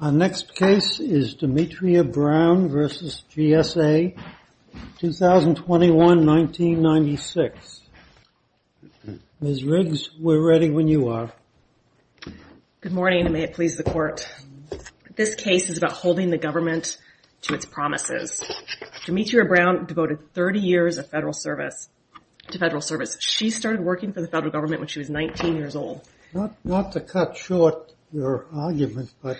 Our next case is Demetria Brown v. GSA, 2021-1996. Ms. Riggs, we're ready when you are. Good morning, and may it please the Court. This case is about holding the government to its promises. Demetria Brown devoted 30 years of federal service to federal service. She started working for the federal government when she was 19 years old. Not to cut short your argument, but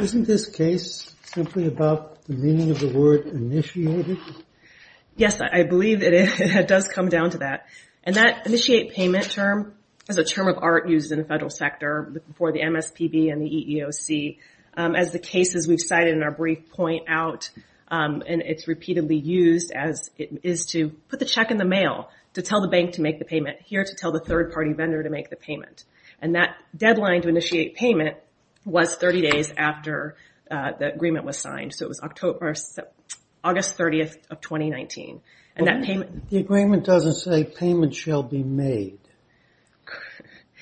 isn't this case simply about the meaning of the word initiated? Yes, I believe it is. It does come down to that. And that initiate payment term is a term of art used in the federal sector for the MSPB and the EEOC. As the cases we've cited in our brief point out, and it's repeatedly used as it is to put the check in the mail, to tell the bank to make the payment, here to tell the third-party vendor to make the payment. And that deadline to initiate payment was 30 days after the agreement was signed, so it was August 30th of 2019. The agreement doesn't say payment shall be made.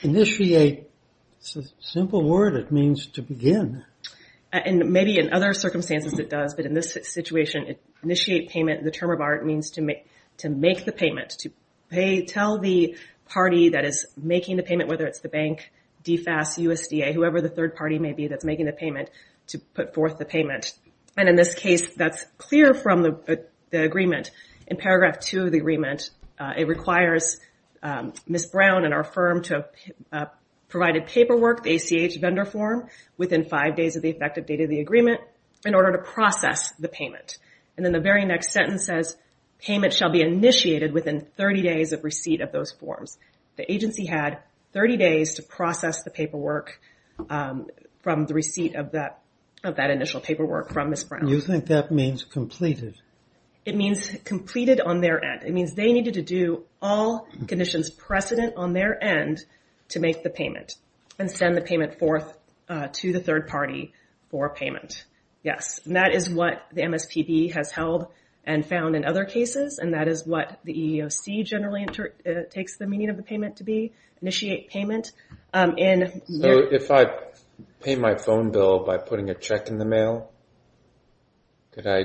Initiate is a simple word. It means to begin. And maybe in other circumstances it does, but in this situation, initiate payment, the term of art, means to make the payment, to tell the party that is making the payment, whether it's the bank, DFAS, USDA, whoever the third-party may be that's making the payment, to put forth the payment. And in this case, that's clear from the agreement. In paragraph 2 of the agreement, it requires Ms. Brown and our firm to provide a paperwork, the ACH vendor form, within five days of the effective date of the agreement, in order to process the payment. And then the very next sentence says, payment shall be initiated within 30 days of receipt of those forms. The agency had 30 days to process the paperwork from the receipt of that initial paperwork from Ms. Brown. You think that means completed? It means completed on their end. It means they needed to do all conditions precedent on their end to make the payment and send the payment forth to the third-party for payment. Yes, and that is what the MSPB has held and found in other cases, and that is what the EEOC generally takes the meaning of the payment to be, initiate payment. So if I pay my phone bill by putting a check in the mail, could I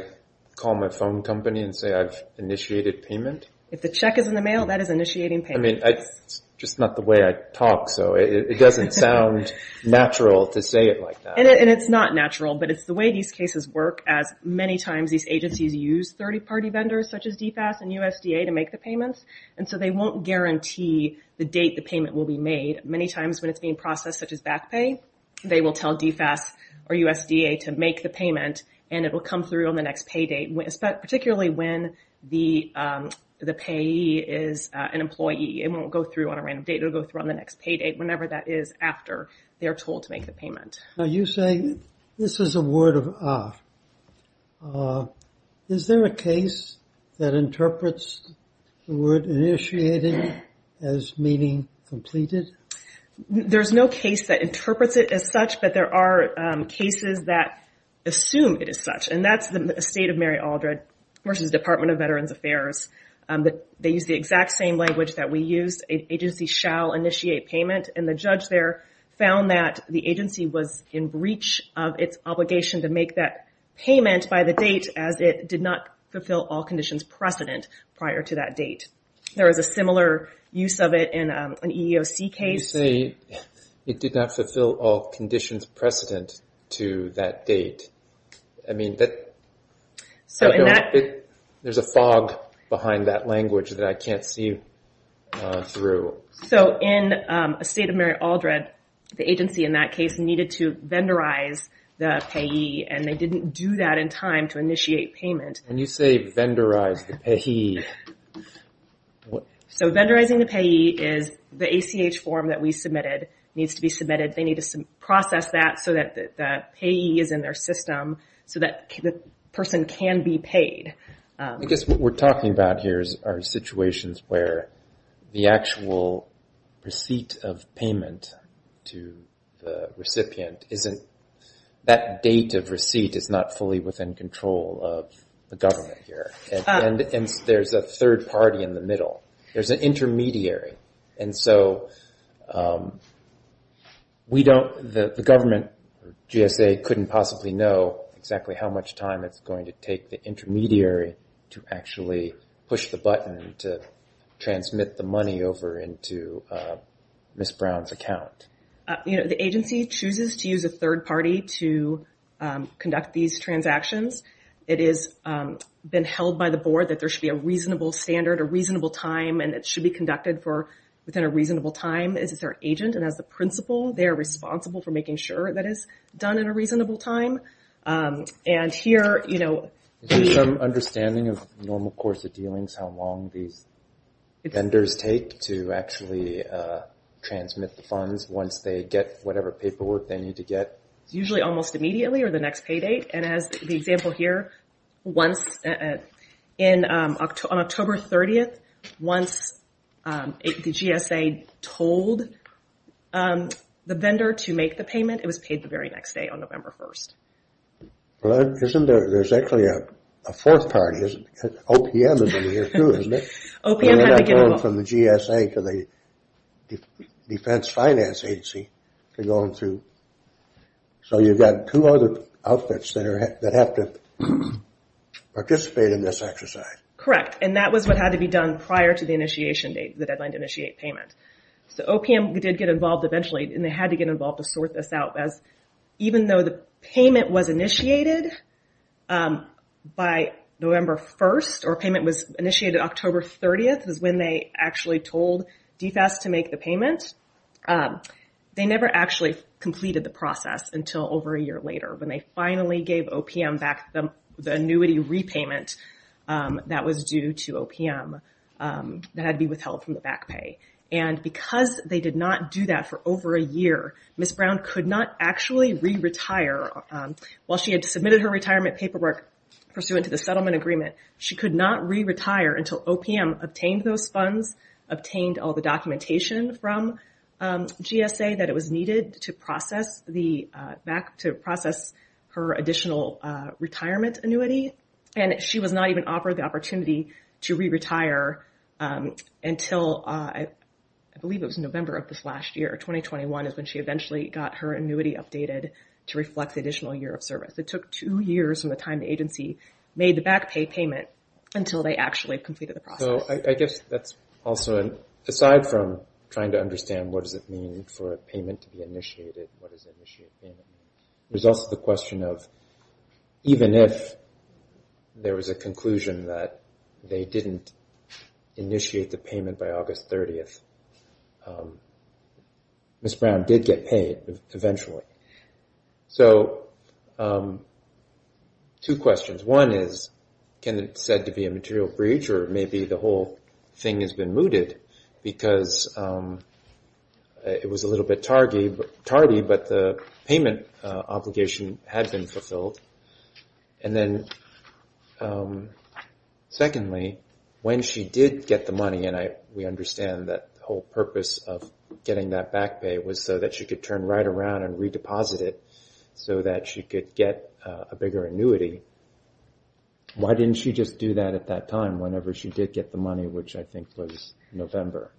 call my phone company and say I've initiated payment? If the check is in the mail, that is initiating payment. I mean, it's just not the way I talk, so it doesn't sound natural to say it like that. And it's not natural, but it's the way these cases work, as many times these agencies use third-party vendors such as DFAS and USDA to make the payments, and so they won't guarantee the date the payment will be made. Many times when it's being processed such as back pay, they will tell DFAS or USDA to make the payment, and it will come through on the next pay date, particularly when the payee is an employee. It won't go through on a random date. It will go through on the next pay date, whenever that is after they are told to make the payment. Now you say this is a word of ah. Is there a case that interprets the word initiating as meaning completed? There's no case that interprets it as such, but there are cases that assume it is such, and that's the estate of Mary Aldred versus Department of Veterans Affairs. They use the exact same language that we use. Agency shall initiate payment, and the judge there found that the agency was in breach of its obligation to make that payment by the date as it did not fulfill all conditions precedent prior to that date. There is a similar use of it in an EEOC case. You say it did not fulfill all conditions precedent to that date. There's a fog behind that language that I can't see through. In the estate of Mary Aldred, the agency in that case needed to vendorize the payee, and they didn't do that in time to initiate payment. When you say vendorize the payee... Vendorizing the payee is the ACH form that we submitted needs to be submitted. They need to process that so that the payee is in their system so that the person can be paid. I guess what we're talking about here are situations where the actual receipt of payment to the recipient isn't... That date of receipt is not fully within control of the government here, and there's a third party in the middle. There's an intermediary, and so we don't... The government, GSA, couldn't possibly know exactly how much time it's going to take the intermediary to actually push the button to transmit the money over into Ms. Brown's account. The agency chooses to use a third party to conduct these transactions. It has been held by the board that there should be a reasonable standard, a reasonable time, and it should be conducted within a reasonable time. It's their agent, and as the principal, they're responsible for making sure that it's done in a reasonable time. And here... Is there some understanding of normal course of dealings, how long these vendors take to actually transmit the funds once they get whatever paperwork they need to get? It's usually almost immediately or the next pay date. And as the example here, once... On October 30th, once the GSA told the vendor to make the payment, it was paid the very next day on November 1st. Well, isn't there... There's actually a fourth party, isn't there? OPM is in here too, isn't there? OPM had to get involved. They're not going from the GSA to the Defense Finance Agency. So you've got two other outfits that have to participate in this exercise. Correct. And that was what had to be done prior to the initiation date, the deadline to initiate payment. So OPM did get involved eventually, and they had to get involved to sort this out. Even though the payment was initiated by November 1st, or payment was initiated October 30th is when they actually told DFAS to make the payment, they never actually completed the process until over a year later when they finally gave OPM back the annuity repayment that was due to OPM that had to be withheld from the back pay. And because they did not do that for over a year, Ms. Brown could not actually re-retire. While she had submitted her retirement paperwork pursuant to the settlement agreement, obtained all the documentation from GSA that it was needed to process the back, to process her additional retirement annuity, and she was not even offered the opportunity to re-retire until, I believe it was November of this last year, 2021, is when she eventually got her annuity updated to reflect the additional year of service. It took two years from the time the agency made the back pay payment until they actually completed the process. I guess that's also, aside from trying to understand what does it mean for a payment to be initiated, what does initiate payment mean, there's also the question of even if there was a conclusion that they didn't initiate the payment by August 30th, Ms. Brown did get paid eventually. So, two questions. One is, can it be said to be a material breach or maybe the whole thing has been mooted because it was a little bit tardy, but the payment obligation had been fulfilled. And then secondly, when she did get the money, and we understand that the whole purpose of getting that back pay was so that she could turn right around and re-deposit it so that she could get a bigger annuity, why didn't she just do that at that time whenever she did get the money, which I think was November?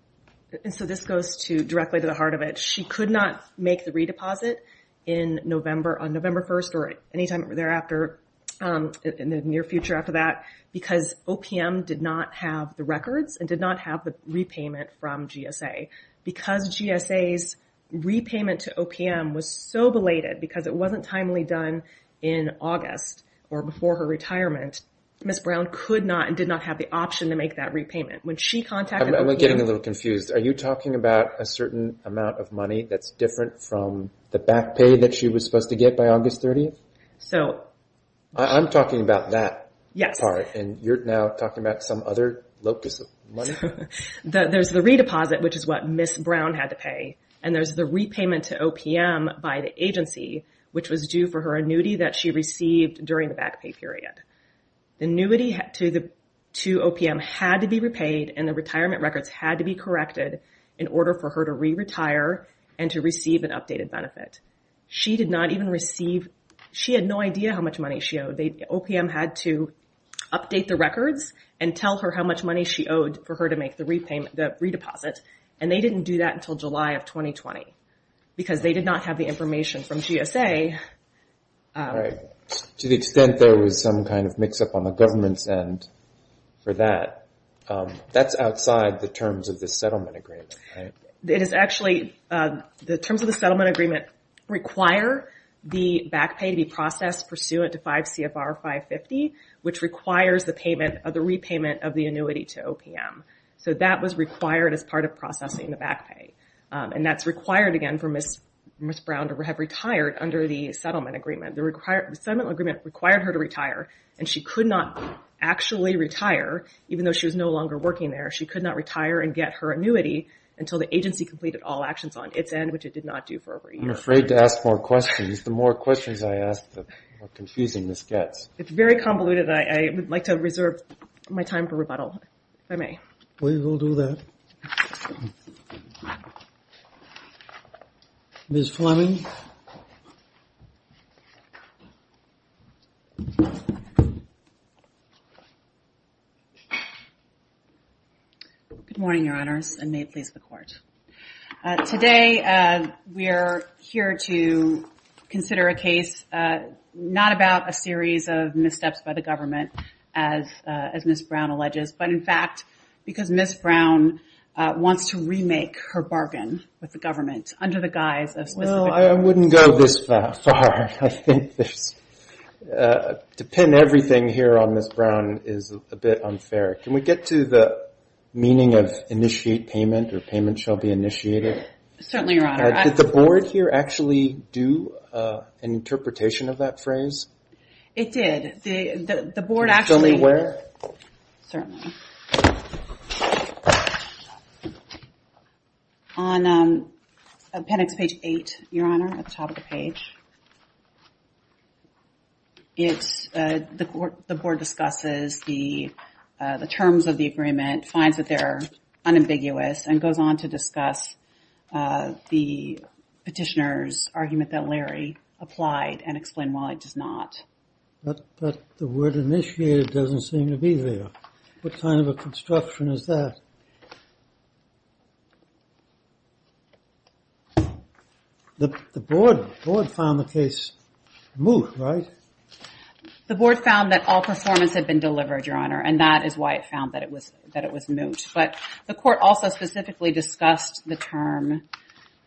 And so this goes directly to the heart of it. She could not make the re-deposit on November 1st or any time thereafter, in the near future after that, because OPM did not have the records and did not have the repayment from GSA. Because GSA's repayment to OPM was so belated, because it wasn't timely done in August or before her retirement, Ms. Brown could not and did not have the option to make that repayment. I'm getting a little confused. Are you talking about a certain amount of money that's different from the back pay that she was supposed to get by August 30th? I'm talking about that part, and you're now talking about some other locus of money? There's the re-deposit, which is what Ms. Brown had to pay, and there's the repayment to OPM by the agency, which was due for her annuity that she received during the back pay period. The annuity to OPM had to be repaid, and the retirement records had to be corrected in order for her to re-retire and to receive an updated benefit. She did not even receive – she had no idea how much money she owed. OPM had to update the records and tell her how much money she owed for her to make the re-deposit, and they didn't do that until July of 2020 because they did not have the information from GSA. To the extent there was some kind of mix-up on the government's end for that, that's outside the terms of the settlement agreement, right? It is actually – the terms of the settlement agreement require the back pay to be processed pursuant to 5 CFR 550, which requires the repayment of the annuity to OPM. So that was required as part of processing the back pay, and that's required, again, for Ms. Brown to have retired under the settlement agreement. The settlement agreement required her to retire, and she could not actually retire, even though she was no longer working there. She could not retire and get her annuity until the agency completed all actions on its end, which it did not do for over a year. I'm afraid to ask more questions. The more questions I ask, the more confusing this gets. It's very convoluted. I would like to reserve my time for rebuttal, if I may. We will do that. Ms. Fleming? Good morning, Your Honors, and may it please the Court. Today we are here to consider a case, not about a series of missteps by the government, as Ms. Brown alleges, but in fact because Ms. Brown wants to remake her bargain with the government under the guise of specific terms. Well, I wouldn't go this far. To pin everything here on Ms. Brown is a bit unfair. Can we get to the meaning of initiate payment, or payment shall be initiated? Certainly, Your Honor. Did the Board here actually do an interpretation of that phrase? The Board actually. Ms. Fleming, where? Certainly. The Board discusses the terms of the agreement, finds that they're unambiguous, and goes on to discuss the petitioner's argument that Larry applied and explained why it does not. But the word initiated doesn't seem to be there. What kind of a construction is that? The Board found the case moot, right? The Board found that all performance had been delivered, Your Honor, and that is why it found that it was moot. But the Court also specifically discussed the term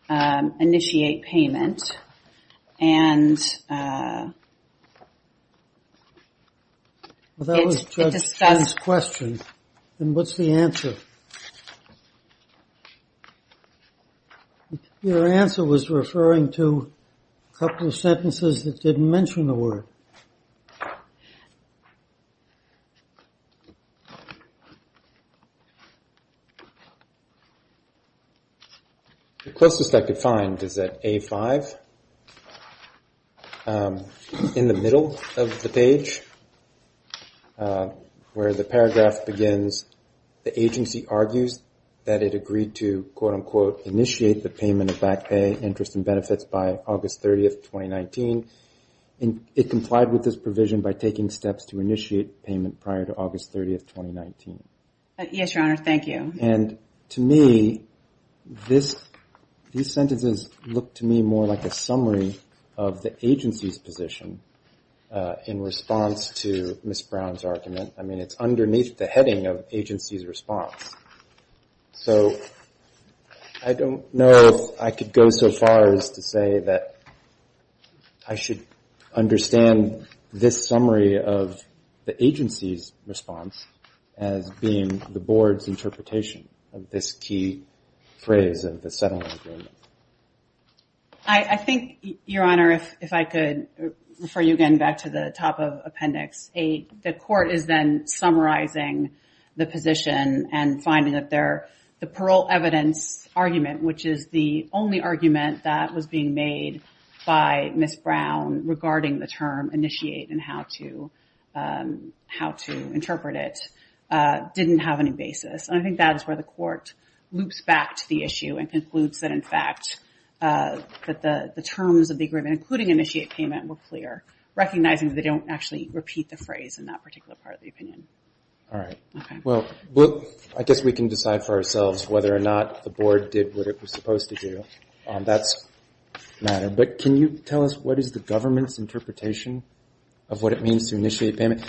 initiate payment, and it discussed. Well, that was Judge Chen's question. Then what's the answer? Your answer was referring to a couple of sentences that didn't mention the word. The closest I could find is at A5, in the middle of the page, where the paragraph begins, the agency argues that it agreed to, quote, unquote, initiate the payment of back pay, interest, and benefits by August 30th, 2019. It complied with this provision by taking steps to initiate payment prior to August 30th, 2019. Yes, Your Honor, thank you. And to me, these sentences look to me more like a summary of the agency's position in response to Ms. Brown's argument. I mean, it's underneath the heading of agency's response. So I don't know if I could go so far as to say that I should understand this summary of the agency's response as being the Board's interpretation of this key phrase of the settlement agreement. I think, Your Honor, if I could refer you again back to the top of appendix A, I think the court is then summarizing the position and finding that the parole evidence argument, which is the only argument that was being made by Ms. Brown regarding the term initiate and how to interpret it, didn't have any basis. And I think that is where the court loops back to the issue and concludes that, in fact, that the terms of the agreement, including initiate payment, were clear, recognizing that they don't actually repeat the phrase in that particular part of the opinion. All right. Well, I guess we can decide for ourselves whether or not the Board did what it was supposed to do. That's a matter. But can you tell us what is the government's interpretation of what it means to initiate payment?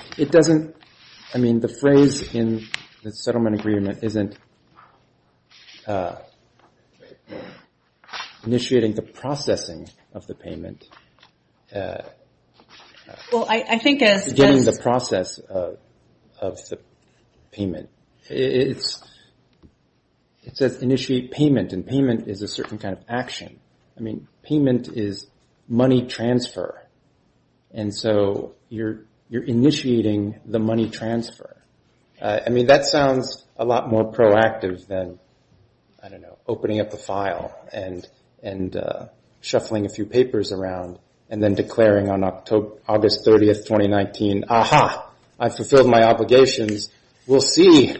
I mean, the phrase in the settlement agreement isn't initiating the processing of the payment. It's beginning the process of the payment. It says initiate payment, and payment is a certain kind of action. I mean, payment is money transfer. And so you're initiating the money transfer. I mean, that sounds a lot more proactive than, I don't know, opening up a file and shuffling a few papers around and then declaring on August 30th, 2019, aha, I've fulfilled my obligations. We'll see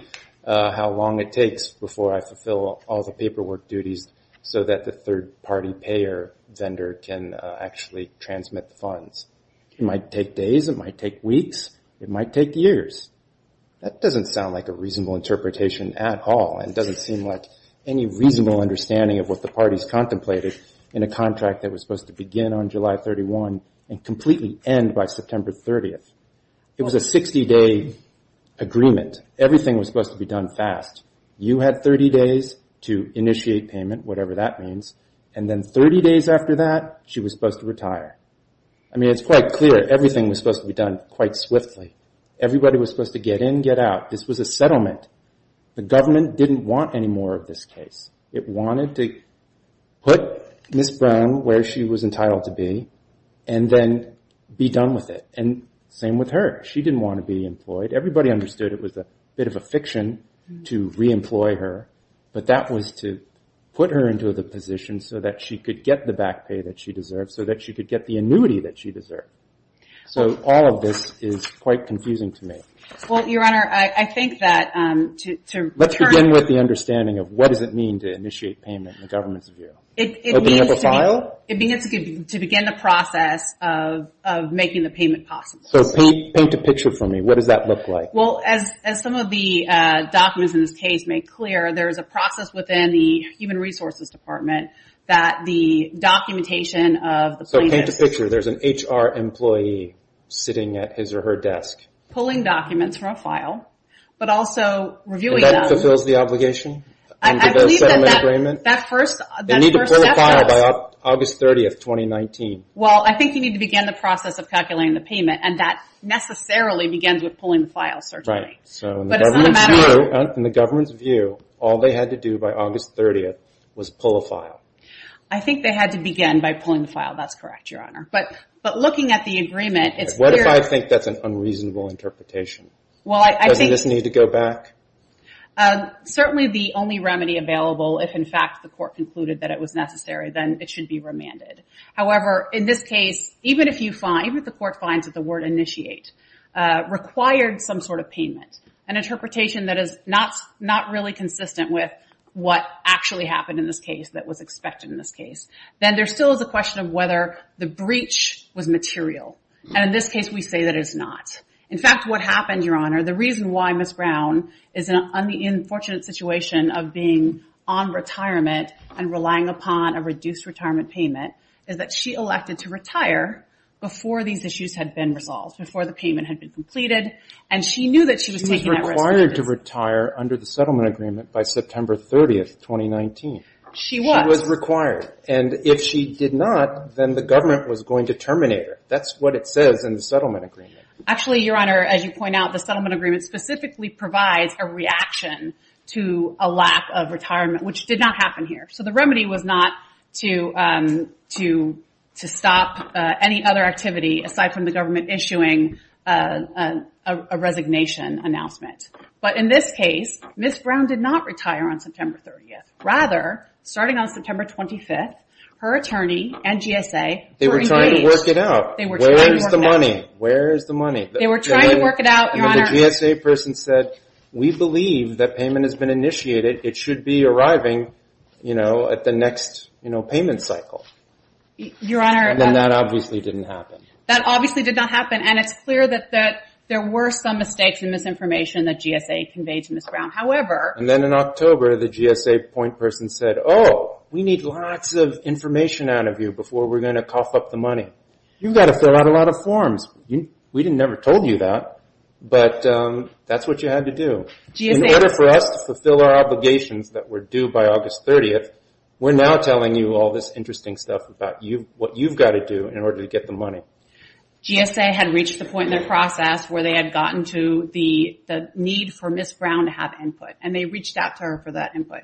how long it takes before I fulfill all the paperwork duties so that the third-party payer vendor can actually transmit the funds. It might take days. It might take weeks. It might take years. That doesn't sound like a reasonable interpretation at all, and it doesn't seem like any reasonable understanding of what the parties contemplated in a contract that was supposed to begin on July 31 and completely end by September 30th. It was a 60-day agreement. Everything was supposed to be done fast. You had 30 days to initiate payment, whatever that means, and then 30 days after that, she was supposed to retire. I mean, it's quite clear everything was supposed to be done quite swiftly. Everybody was supposed to get in, get out. This was a settlement. The government didn't want any more of this case. It wanted to put Ms. Brown where she was entitled to be and then be done with it. And same with her. She didn't want to be employed. Everybody understood it was a bit of a fiction to re-employ her, but that was to put her into the position so that she could get the back pay that she deserved, so that she could get the annuity that she deserved. So all of this is quite confusing to me. Well, Your Honor, I think that to return to- Let's begin with the understanding of what does it mean to initiate payment in the government's view. It means to begin the process of making the payment possible. So paint a picture for me. What does that look like? Well, as some of the documents in this case make clear, there is a process within the Human Resources Department that the documentation of the plaintiff- So paint a picture. There's an HR employee sitting at his or her desk. Pulling documents from a file, but also reviewing them- And that fulfills the obligation under the settlement agreement? I believe that that first- They need to pull a file by August 30th, 2019. Well, I think you need to begin the process of calculating the payment, and that necessarily begins with pulling the file, certainly. Right. But it's not a matter of- So in the government's view, all they had to do by August 30th was pull a file. I think they had to begin by pulling the file. That's correct, Your Honor. But looking at the agreement, it's clear- What if I think that's an unreasonable interpretation? Well, I think- Doesn't this need to go back? Certainly the only remedy available, if in fact the court concluded that it was necessary, then it should be remanded. However, in this case, even if the court finds that the word initiate required some sort of payment, an interpretation that is not really consistent with what actually happened in this case, that was expected in this case, then there still is a question of whether the breach was material. And in this case, we say that it's not. In fact, what happened, Your Honor, the reason why Ms. Brown is in an unfortunate situation of being on retirement and relying upon a reduced retirement payment is that she elected to retire before these issues had been resolved, before the payment had been completed, and she knew that she was taking that risk. She was required to retire under the settlement agreement by September 30th, 2019. She was. She was required. And if she did not, then the government was going to terminate her. That's what it says in the settlement agreement. Actually, Your Honor, as you point out, the settlement agreement specifically provides a reaction to a lack of retirement, which did not happen here. So the remedy was not to stop any other activity aside from the government issuing a resignation announcement. But in this case, Ms. Brown did not retire on September 30th. Rather, starting on September 25th, her attorney and GSA were engaged. They were trying to work it out. They were trying to work it out. Where is the money? Where is the money? They were trying to work it out, Your Honor. And the GSA person said, we believe that payment has been initiated. It should be arriving, you know, at the next, you know, payment cycle. Your Honor. And then that obviously didn't happen. That obviously did not happen, and it's clear that there were some mistakes and misinformation that GSA conveyed to Ms. Brown. However. And then in October, the GSA point person said, oh, we need lots of information out of you before we're going to cough up the money. You've got to fill out a lot of forms. We never told you that, but that's what you had to do. In order for us to fulfill our obligations that were due by August 30th, we're now telling you all this interesting stuff about what you've got to do in order to get the money. GSA had reached the point in their process where they had gotten to the need for Ms. Brown to have input, and they reached out to her for that input.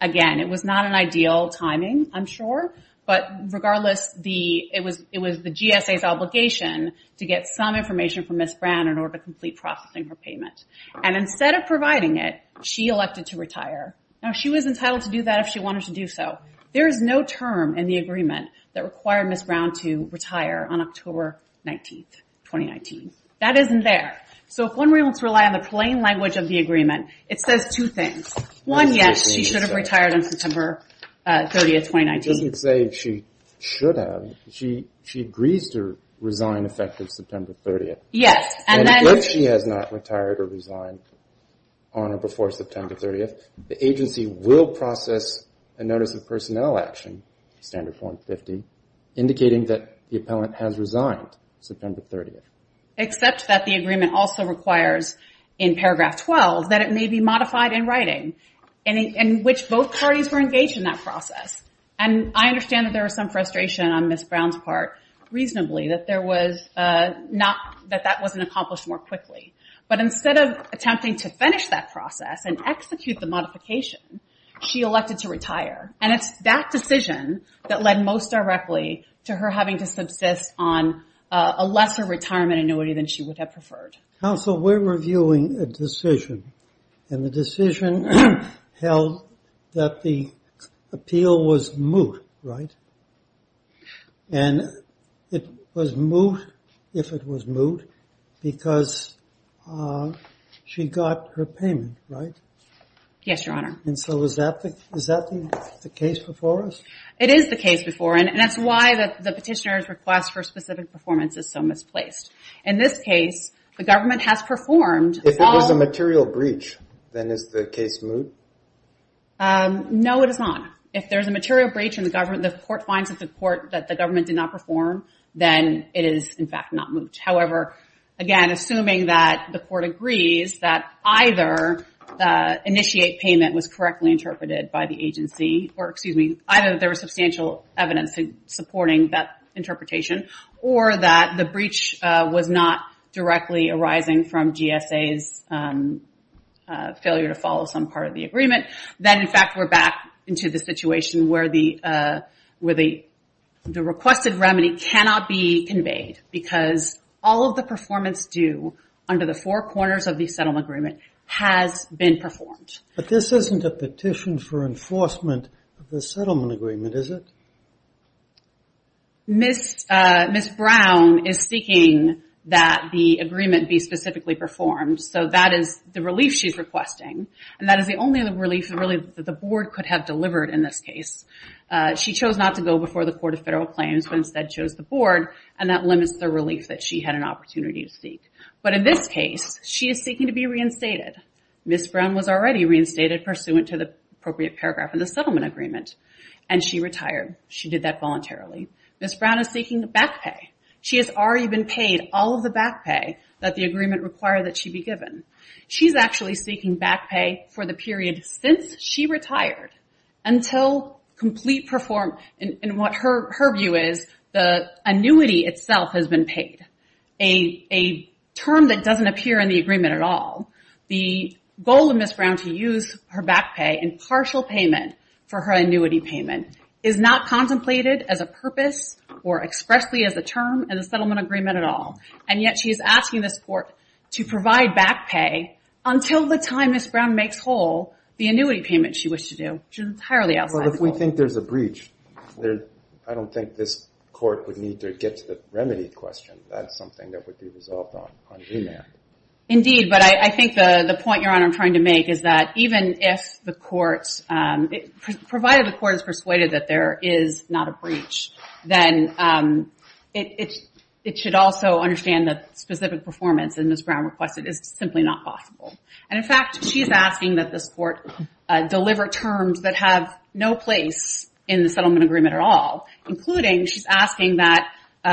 Again, it was not an ideal timing, I'm sure, but regardless, it was the GSA's obligation to get some information from Ms. Brown in order to complete processing her payment. And instead of providing it, she elected to retire. Now, she was entitled to do that if she wanted to do so. There is no term in the agreement that required Ms. Brown to retire on October 19th, 2019. That isn't there. So if one wants to rely on the plain language of the agreement, it says two things. It doesn't say she should have. She agrees to resign effective September 30th. Yes. And if she has not retired or resigned on or before September 30th, the agency will process a notice of personnel action, standard form 50, indicating that the appellant has resigned September 30th. Except that the agreement also requires in paragraph 12 that it may be modified in writing, in which both parties were engaged in that process. And I understand that there was some frustration on Ms. Brown's part, reasonably, that that wasn't accomplished more quickly. But instead of attempting to finish that process and execute the modification, she elected to retire. And it's that decision that led most directly to her having to subsist on a lesser retirement annuity than she would have preferred. Counsel, we're reviewing a decision. And the decision held that the appeal was moot, right? And it was moot if it was moot because she got her payment, right? Yes, Your Honor. And so is that the case before us? It is the case before. And that's why the petitioner's request for specific performance is so misplaced. In this case, the government has performed. If it was a material breach, then is the case moot? No, it is not. If there's a material breach and the court finds that the government did not perform, then it is, in fact, not moot. However, again, assuming that the court agrees that either initiate payment was correctly interpreted by the agency, or excuse me, either there was substantial evidence supporting that interpretation, or that the breach was not directly arising from GSA's failure to follow some part of the agreement, then, in fact, we're back into the situation where the requested remedy cannot be conveyed because all of the performance due under the four corners of the settlement agreement has been performed. But this isn't a petition for enforcement of the settlement agreement, is it? Ms. Brown is seeking that the agreement be specifically performed. So that is the relief she's requesting. And that is the only relief really that the board could have delivered in this case. She chose not to go before the Court of Federal Claims, but instead chose the board, and that limits the relief that she had an opportunity to seek. But in this case, she is seeking to be reinstated. Ms. Brown was already reinstated pursuant to the appropriate paragraph in the settlement agreement, and she retired. She did that voluntarily. Ms. Brown is seeking back pay. She has already been paid all of the back pay that the agreement required that she be given. She's actually seeking back pay for the period since she retired until complete performance. And what her view is, the annuity itself has been paid, a term that doesn't appear in the agreement at all. The goal of Ms. Brown to use her back pay in partial payment for her annuity payment is not contemplated as a purpose or expressly as a term in the settlement agreement at all. And yet she is asking this court to provide back pay until the time Ms. Brown makes whole the annuity payment she wished to do, which is entirely outside the goal. But if we think there's a breach, I don't think this court would need to get to the remedy question. That's something that would be resolved on remand. Indeed, but I think the point, Your Honor, I'm trying to make is that even if the court's provided the court is persuaded that there is not a breach, then it should also understand that specific performance, as Ms. Brown requested, is simply not possible. And, in fact, she's asking that this court deliver terms that have no place in the settlement agreement at all, including she's asking that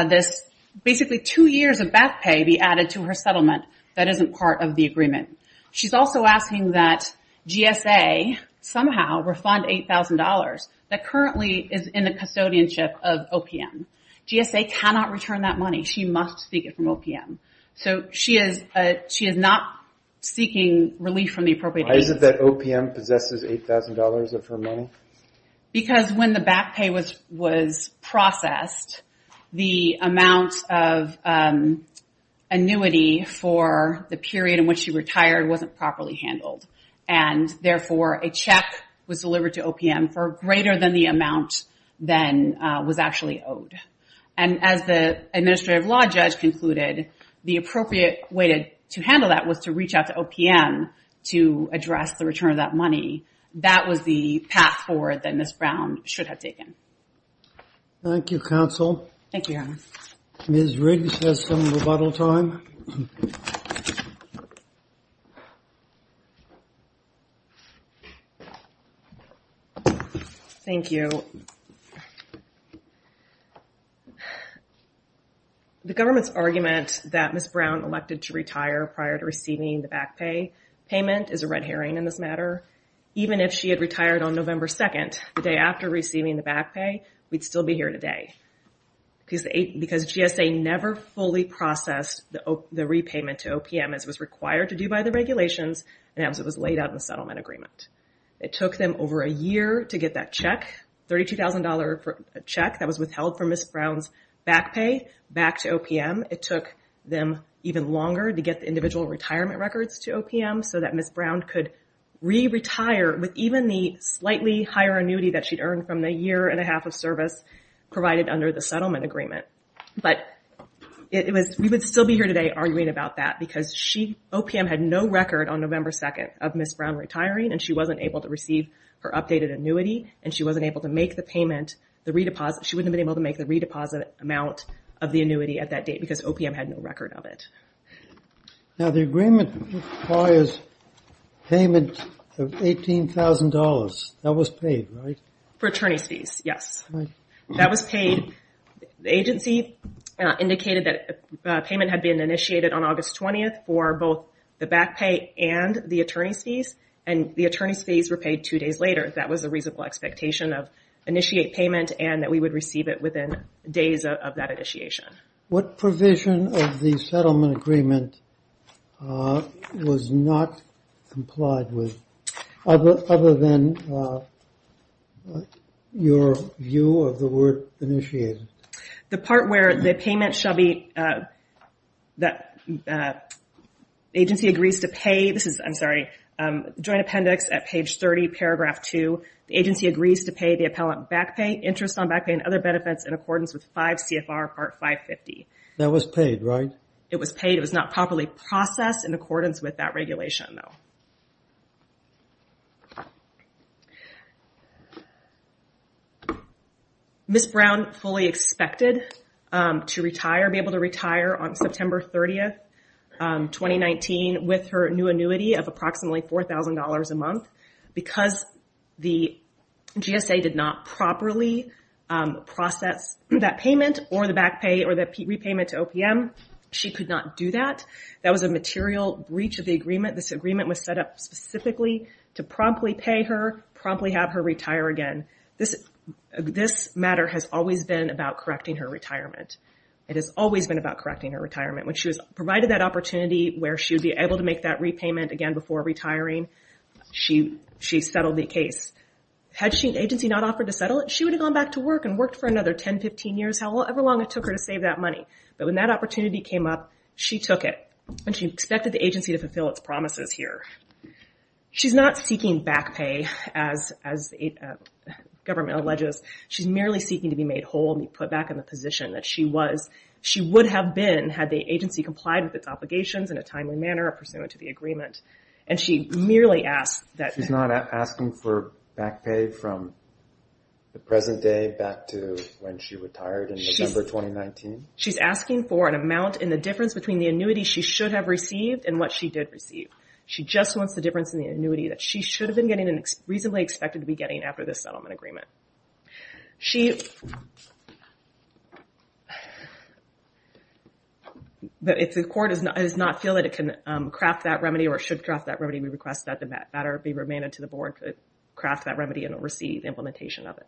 this basically two years of back pay be added to her settlement that isn't part of the agreement. She's also asking that GSA somehow refund $8,000 that currently is in the custodianship of OPM. GSA cannot return that money. She must seek it from OPM. So she is not seeking relief from the appropriate agency. Why is it that OPM possesses $8,000 of her money? Because when the back pay was processed, the amount of annuity for the period in which she retired wasn't properly handled. And, therefore, a check was delivered to OPM for greater than the amount then was actually owed. And as the administrative law judge concluded, the appropriate way to handle that was to reach out to OPM to address the return of that money. That was the path forward that Ms. Brown should have taken. Thank you, Counsel. Thank you, Your Honor. Ms. Riggs has some rebuttal time. Thank you. The government's argument that Ms. Brown elected to retire prior to receiving the back pay payment is a red herring in this matter. Even if she had retired on November 2nd, the day after receiving the back pay, we'd still be here today. Because GSA never fully processed the repayment to OPM as was required to do by the regulations and as it was laid out in the settlement agreement. It took them over a year to get that check, $32,000 check that was withheld from Ms. Brown's back pay, back to OPM. It took them even longer to get the individual retirement records to OPM so that Ms. Brown could re-retire with even the slightly higher annuity that she'd earned from the year and a half of service provided under the settlement agreement. But we would still be here today arguing about that because OPM had no record on November 2nd of Ms. Brown retiring and she wasn't able to receive her updated annuity and she wasn't able to make the payment, she wouldn't have been able to make the redeposit amount of the annuity at that date because OPM had no record of it. Now the agreement requires payment of $18,000. That was paid, right? For attorney's fees, yes. That was paid. The agency indicated that payment had been initiated on August 20th for both the back pay and the attorney's fees and the attorney's fees were paid two days later. That was a reasonable expectation of initiate payment and that we would receive it within days of that initiation. What provision of the settlement agreement was not complied with, other than your view of the word initiated? The part where the payment shall be, the agency agrees to pay, this is, I'm sorry, joint appendix at page 30, paragraph 2. The agency agrees to pay the appellant back pay, interest on back pay and other benefits in accordance with 5 CFR part 550. That was paid, right? It was paid. It was not properly processed in accordance with that regulation, though. Ms. Brown fully expected to retire, be able to retire on September 30th, 2019, with her new annuity of approximately $4,000 a month. Because the GSA did not properly process that payment or the back pay or the repayment to OPM, she could not do that. That was a material breach of the agreement. This agreement was set up specifically to promptly pay her, promptly have her retire again. This matter has always been about correcting her retirement. It has always been about correcting her retirement. When she was provided that opportunity where she would be able to make that repayment again before retiring, she settled the case. Had the agency not offered to settle it, she would have gone back to work and worked for another 10, 15 years, however long it took her to save that money. But when that opportunity came up, she took it. She expected the agency to fulfill its promises here. She's not seeking back pay, as the government alleges. She's merely seeking to be made whole and be put back in the position that she was. She would have been had the agency complied with its obligations in a timely manner pursuant to the agreement. She's not asking for back pay from the present day back to when she retired in December 2019? She's asking for an amount in the difference between the annuity she should have received and what she did receive. She just wants the difference in the annuity that she should have been getting and reasonably expected to be getting after this settlement agreement. She... But if the court does not feel that it can craft that remedy or should craft that remedy, we request that the matter be remanded to the board to craft that remedy and receive implementation of it.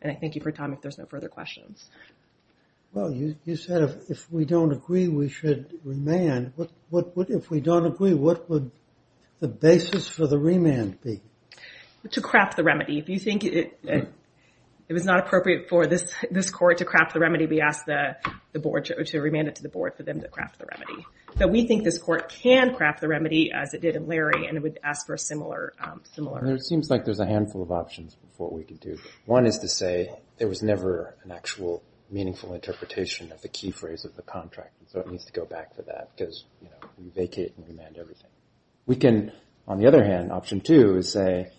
And I thank you for your time. If there's no further questions. Well, you said if we don't agree, we should remand. If we don't agree, what would the basis for the remand be? To craft the remedy. If you think it was not appropriate for this court to craft the remedy, we ask the board to remand it to the board for them to craft the remedy. But we think this court can craft the remedy as it did in Larry and would ask for a similar... It seems like there's a handful of options for what we could do. One is to say there was never an actual meaningful interpretation of the key phrase of the contract. So it needs to go back for that because, you know, we vacate and remand everything. We can, on the other hand, option two is say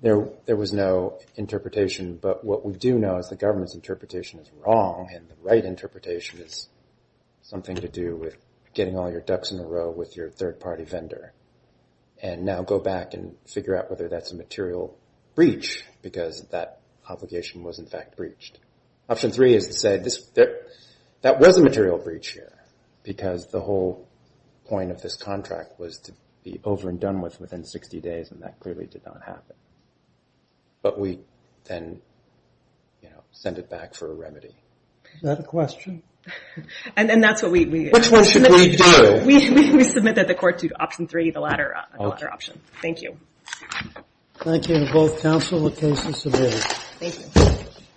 there was no interpretation, but what we do know is the government's interpretation is wrong and the right interpretation is something to do with getting all your ducks in a row with your third-party vendor. And now go back and figure out whether that's a material breach because that obligation was, in fact, breached. Option three is to say that was a material breach here because the whole point of this contract was to be over and done with within 60 days, and that clearly did not happen. But we then, you know, send it back for a remedy. Is that a question? And that's what we... Which one should we do? We submit that the court to option three, the latter option. Thank you. Thank you to both counsel. The case is submitted. Thank you.